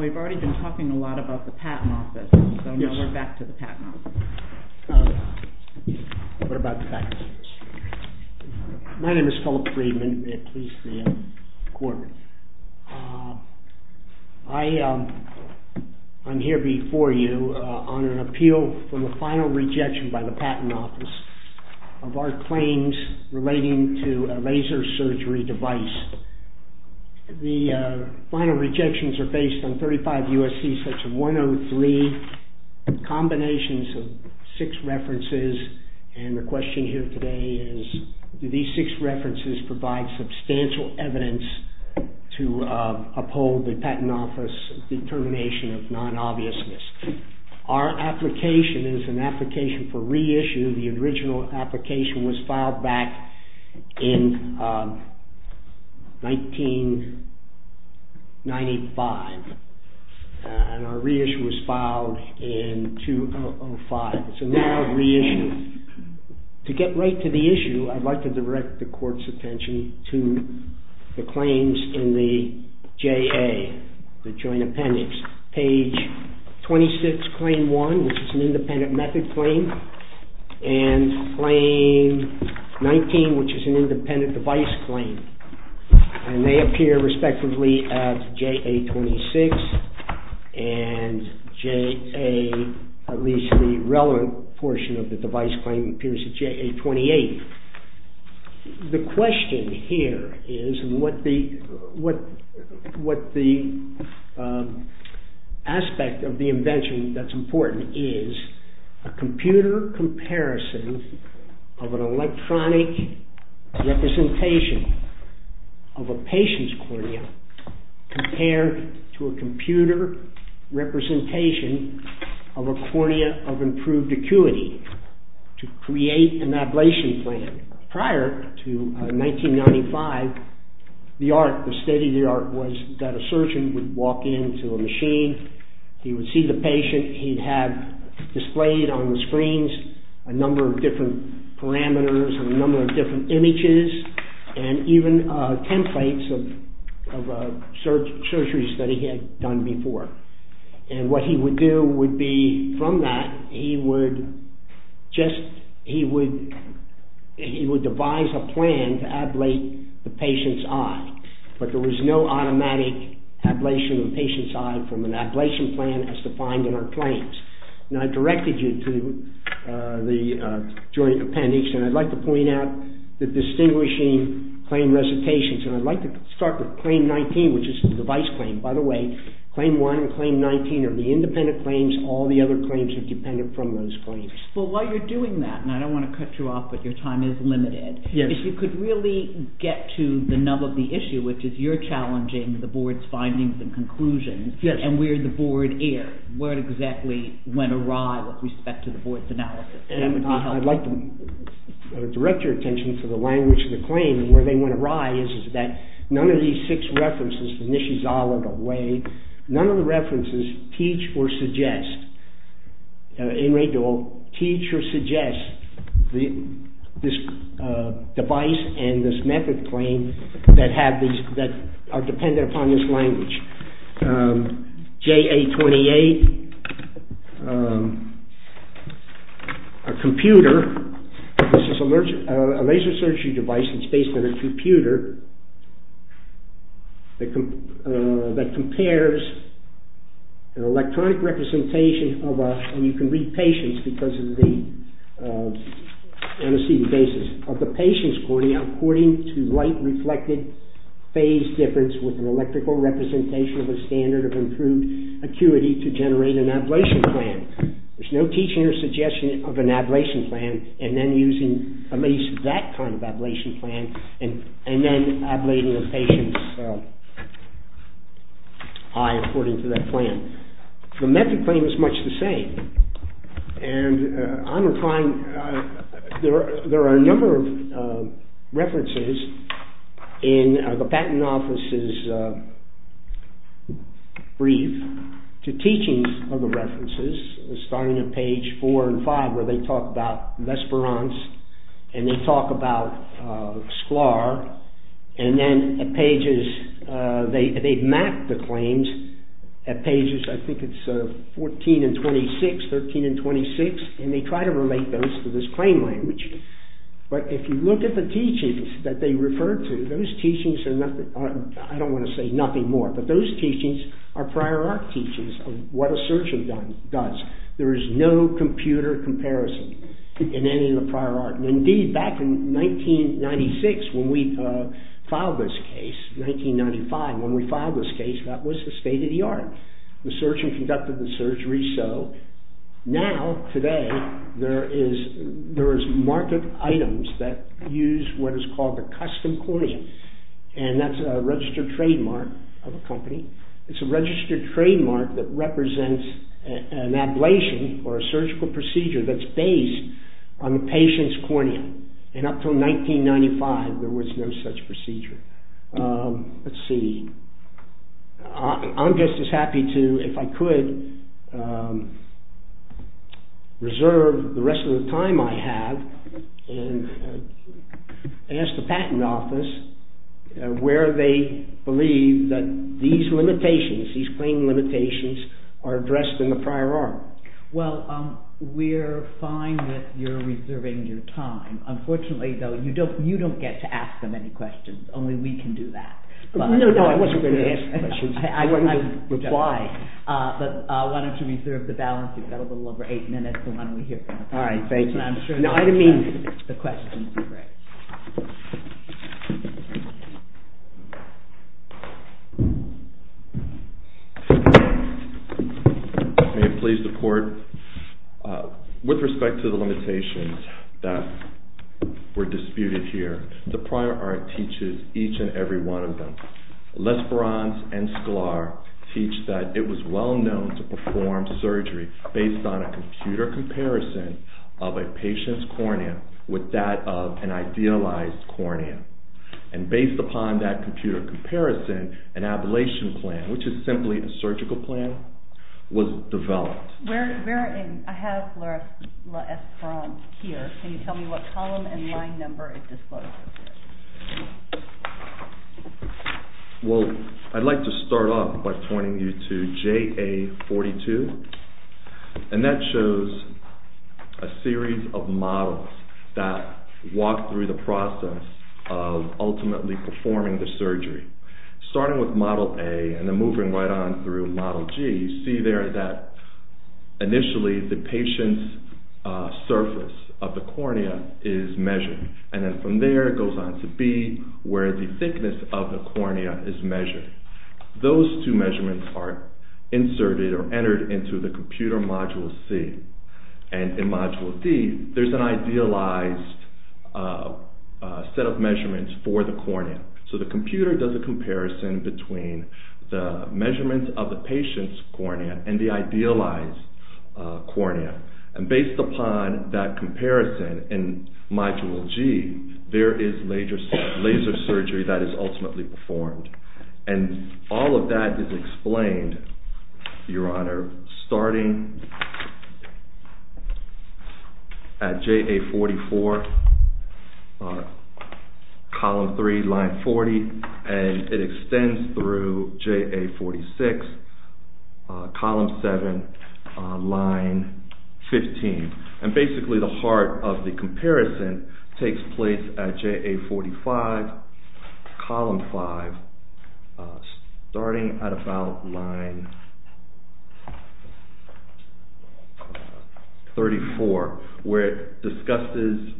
We've already been talking a lot about the Patent Office, so now we're back to the Patent Office. My name is Philip Freedman. I'm here before you on an appeal for the final rejection by the Patent Office of our claims relating to a laser surgery device. The final rejections are based on 35 U.S.C. section 103, combinations of six references, and the question here today is, do these six references provide substantial evidence to uphold the Patent Office determination of non-obviousness? Our application is an application for reissue. The original application was filed back in 1995, and our reissue was filed in 2005. So now, reissue. To get right to the issue, I'd like to direct the Court's attention to the claims in the JA, the Joint Appendix. Page 26, Claim 1, which is an independent method claim, and Claim 19, which is an independent device claim, and they appear respectively at JA 26 and JA, at least the relevant portion of the device claim, appears at JA 28. The question here is, and what the aspect of the invention that's important is, a computer comparison of an electronic representation of a patient's cornea compared to a computer representation of a cornea of improved acuity to create an ablation plan. Prior to 1995, the art, the state of the art was that a surgeon would walk into a machine, he would see the patient, he'd have displayed on the screens a number of different parameters, a number of different images, and even templates of surgeries that he had done before. And what he would do would be, from that, he would just, he would devise a plan to ablate the patient's eye. But there was no automatic ablation of the patient's eye from an ablation plan as defined in our claims. And I've directed you to the Joint Appendix, and I'd like to point out the distinguishing claim recitations. And I'd like to start with Claim 19, which is the device claim. By the way, Claim 1 and Claim 19 are the independent claims. All the other claims are dependent from those claims. Well, while you're doing that, and I don't want to cut you off, but your time is limited, if you could really get to the nub of the issue, which is you're challenging the board's findings and conclusions, and we're the board heir, where exactly went awry with respect to the board's analysis? And I'd like to direct your attention to the language of the claim, and where they went awry is that none of these six references, the Nishizawa, the Wade, none of the references teach or suggest, in Redul, teach or suggest this device and this method claim that are dependent upon this language. JA-28, a computer, this is a laser surgery device that's based on a computer that compares an electronic representation of a, and you can read patients because of the, on a CD basis, of the patient's cornea according to light reflected phase difference with an electrical representation. The standard of improved acuity to generate an ablation plan. There's no teaching or suggestion of an ablation plan, and then using at least that kind of ablation plan, and then ablating a patient's eye according to that plan. The method claim is much the same, and I'm applying, there are a number of references in the Patent Office's brief to teachings of the references, starting at page four and five where they talk about Vesperance, and they talk about Sklar, and then at pages, they've mapped the claims at pages four and five. I think it's 14 and 26, 13 and 26, and they try to relate those to this claim language, but if you look at the teachings that they refer to, those teachings are nothing, I don't want to say nothing more, but those teachings are prior art teachings of what a surgeon does. There is no computer comparison in any of the prior art. Indeed, back in 1996, when we filed this case, 1995, when we filed this case, that was the state of the art. The surgeon conducted the surgery, so now, today, there is, there is market items that use what is called the custom cornea, and that's a registered trademark of a company. It's a registered trademark that represents an ablation or a surgical procedure that's based on the patient's cornea, and up until 1995, there was no such procedure. Let's see. I'm just as happy to, if I could, reserve the rest of the time I have and ask the patent office where they believe that these limitations, these claim limitations, are addressed in the prior art. Well, we're fine with your reserving your time. Unfortunately, though, you don't get to ask them any questions. Only we can do that. No, no, I wasn't going to ask questions. But why don't you reserve the balance? You've got a little over eight minutes, so why don't we hear from the patent office? All right, thank you. And I'm sure the questions will be great. May it please the court, with respect to the limitations that were disputed here, the prior art teaches each and every one of them. Lesperanz and Sklar teach that it was well known to perform surgery based on a computer comparison of a patient's cornea with that of an idealized cornea. And based upon that computer comparison, an ablation plan, which is simply a surgical plan, was developed. I have Lesperanz here. Can you tell me what column and line number it discloses? Well, I'd like to start off by pointing you to JA42, and that shows a series of models that walk through the process of ultimately performing the surgery. Starting with model A and then moving right on through model G, you see there that initially the patient's surface of the cornea is measured. And then from there it goes on to B, where the thickness of the cornea is measured. Those two measurements are inserted or entered into the computer module C. And in module D, there's an idealized set of measurements for the cornea. So the computer does a comparison between the measurements of the patient's cornea and the idealized cornea. And based upon that comparison in module G, there is laser surgery that is ultimately performed. And all of that is explained, Your Honor, starting at JA44, column 3, line 40, and it extends through JA46, column 7, line 15. And basically the heart of the comparison takes place at JA45, column 5, starting at about line 34, where it discusses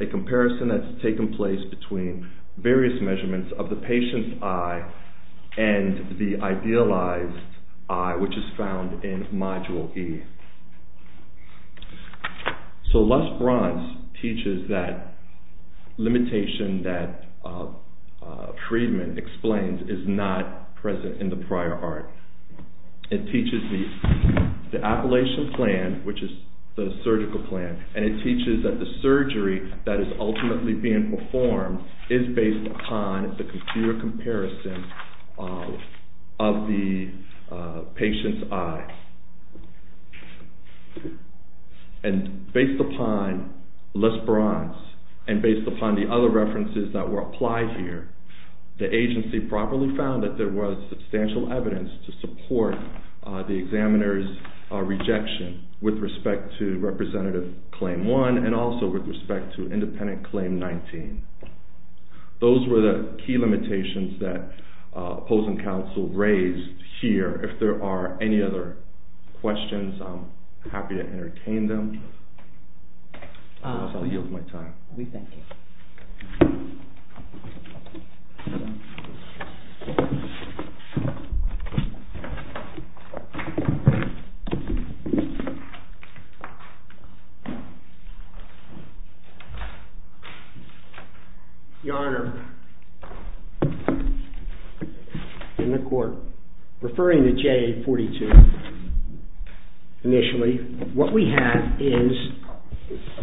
a comparison that's taken place between various measurements of the patient's eye and the idealized eye, which is found in module E. So LusBronce teaches that limitation that Friedman explains is not present in the prior art. It teaches the appellation plan, which is the surgical plan, and it teaches that the surgery that is ultimately being performed is based upon the computer comparison of the patient's eye. And based upon LusBronce and based upon the other references that were applied here, the agency properly found that there was substantial evidence to support the examiner's rejection with respect to Representative Claim 1 and also with respect to Independent Claim 19. Those were the key limitations that opposing counsel raised here. If there are any other questions, I'm happy to entertain them. Your Honor, in the court, referring to JA42 initially, what we have is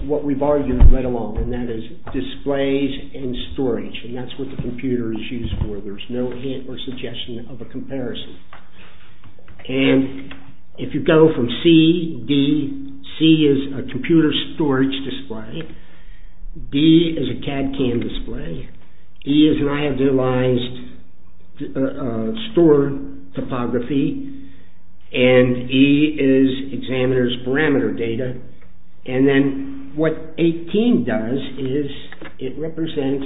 what we've argued right along, and that is displays and storage, and that's what the computer is used for. B is a CAD CAM display, E is an idealized store topography, and E is examiner's parameter data, and then what 18 does is it represents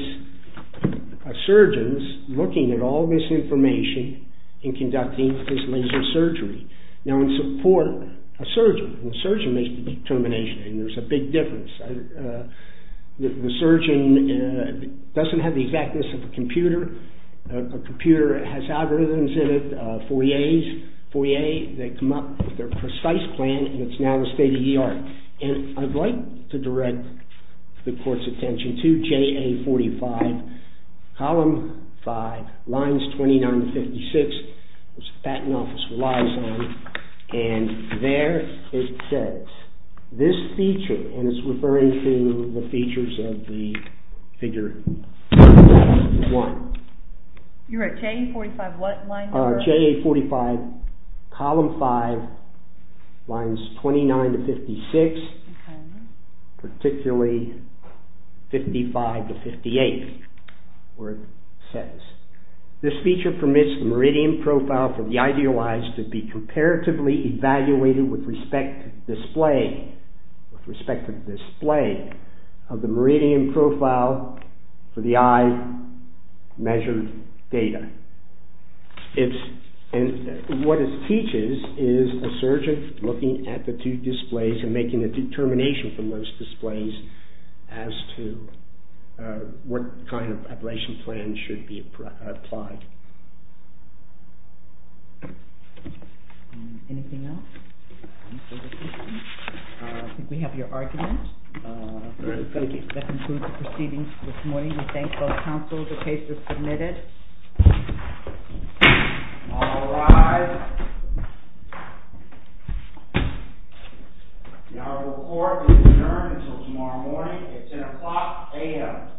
a surgeon's looking at all this information and conducting his laser surgery. Now, in support, a surgeon makes the determination, and there's a big difference. The surgeon doesn't have the exactness of a computer. A computer has algorithms in it, Foyer, they come up with their precise plan, and it's now the state of the art. And I'd like to direct the court's attention to JA45, column 5, lines 29 to 56, which the Patent Office relies on, and there it says, this feature, and it's referring to the features of the figure 1. You're at JA45, what line number? JA45, column 5, lines 29 to 56, particularly 55 to 58, where it says, this feature permits meridian profile for the idealized to be comparatively evaluated with respect to the display of the meridian profile for the eye. Measured data. And what it teaches is a surgeon looking at the two displays and making a determination from those displays as to what kind of operation plan should be applied. Anything else? I think we have your argument. That concludes the proceedings for this morning. We thank both counsel. The case is submitted. All rise. The oral court is adjourned until tomorrow morning at 10 o'clock a.m.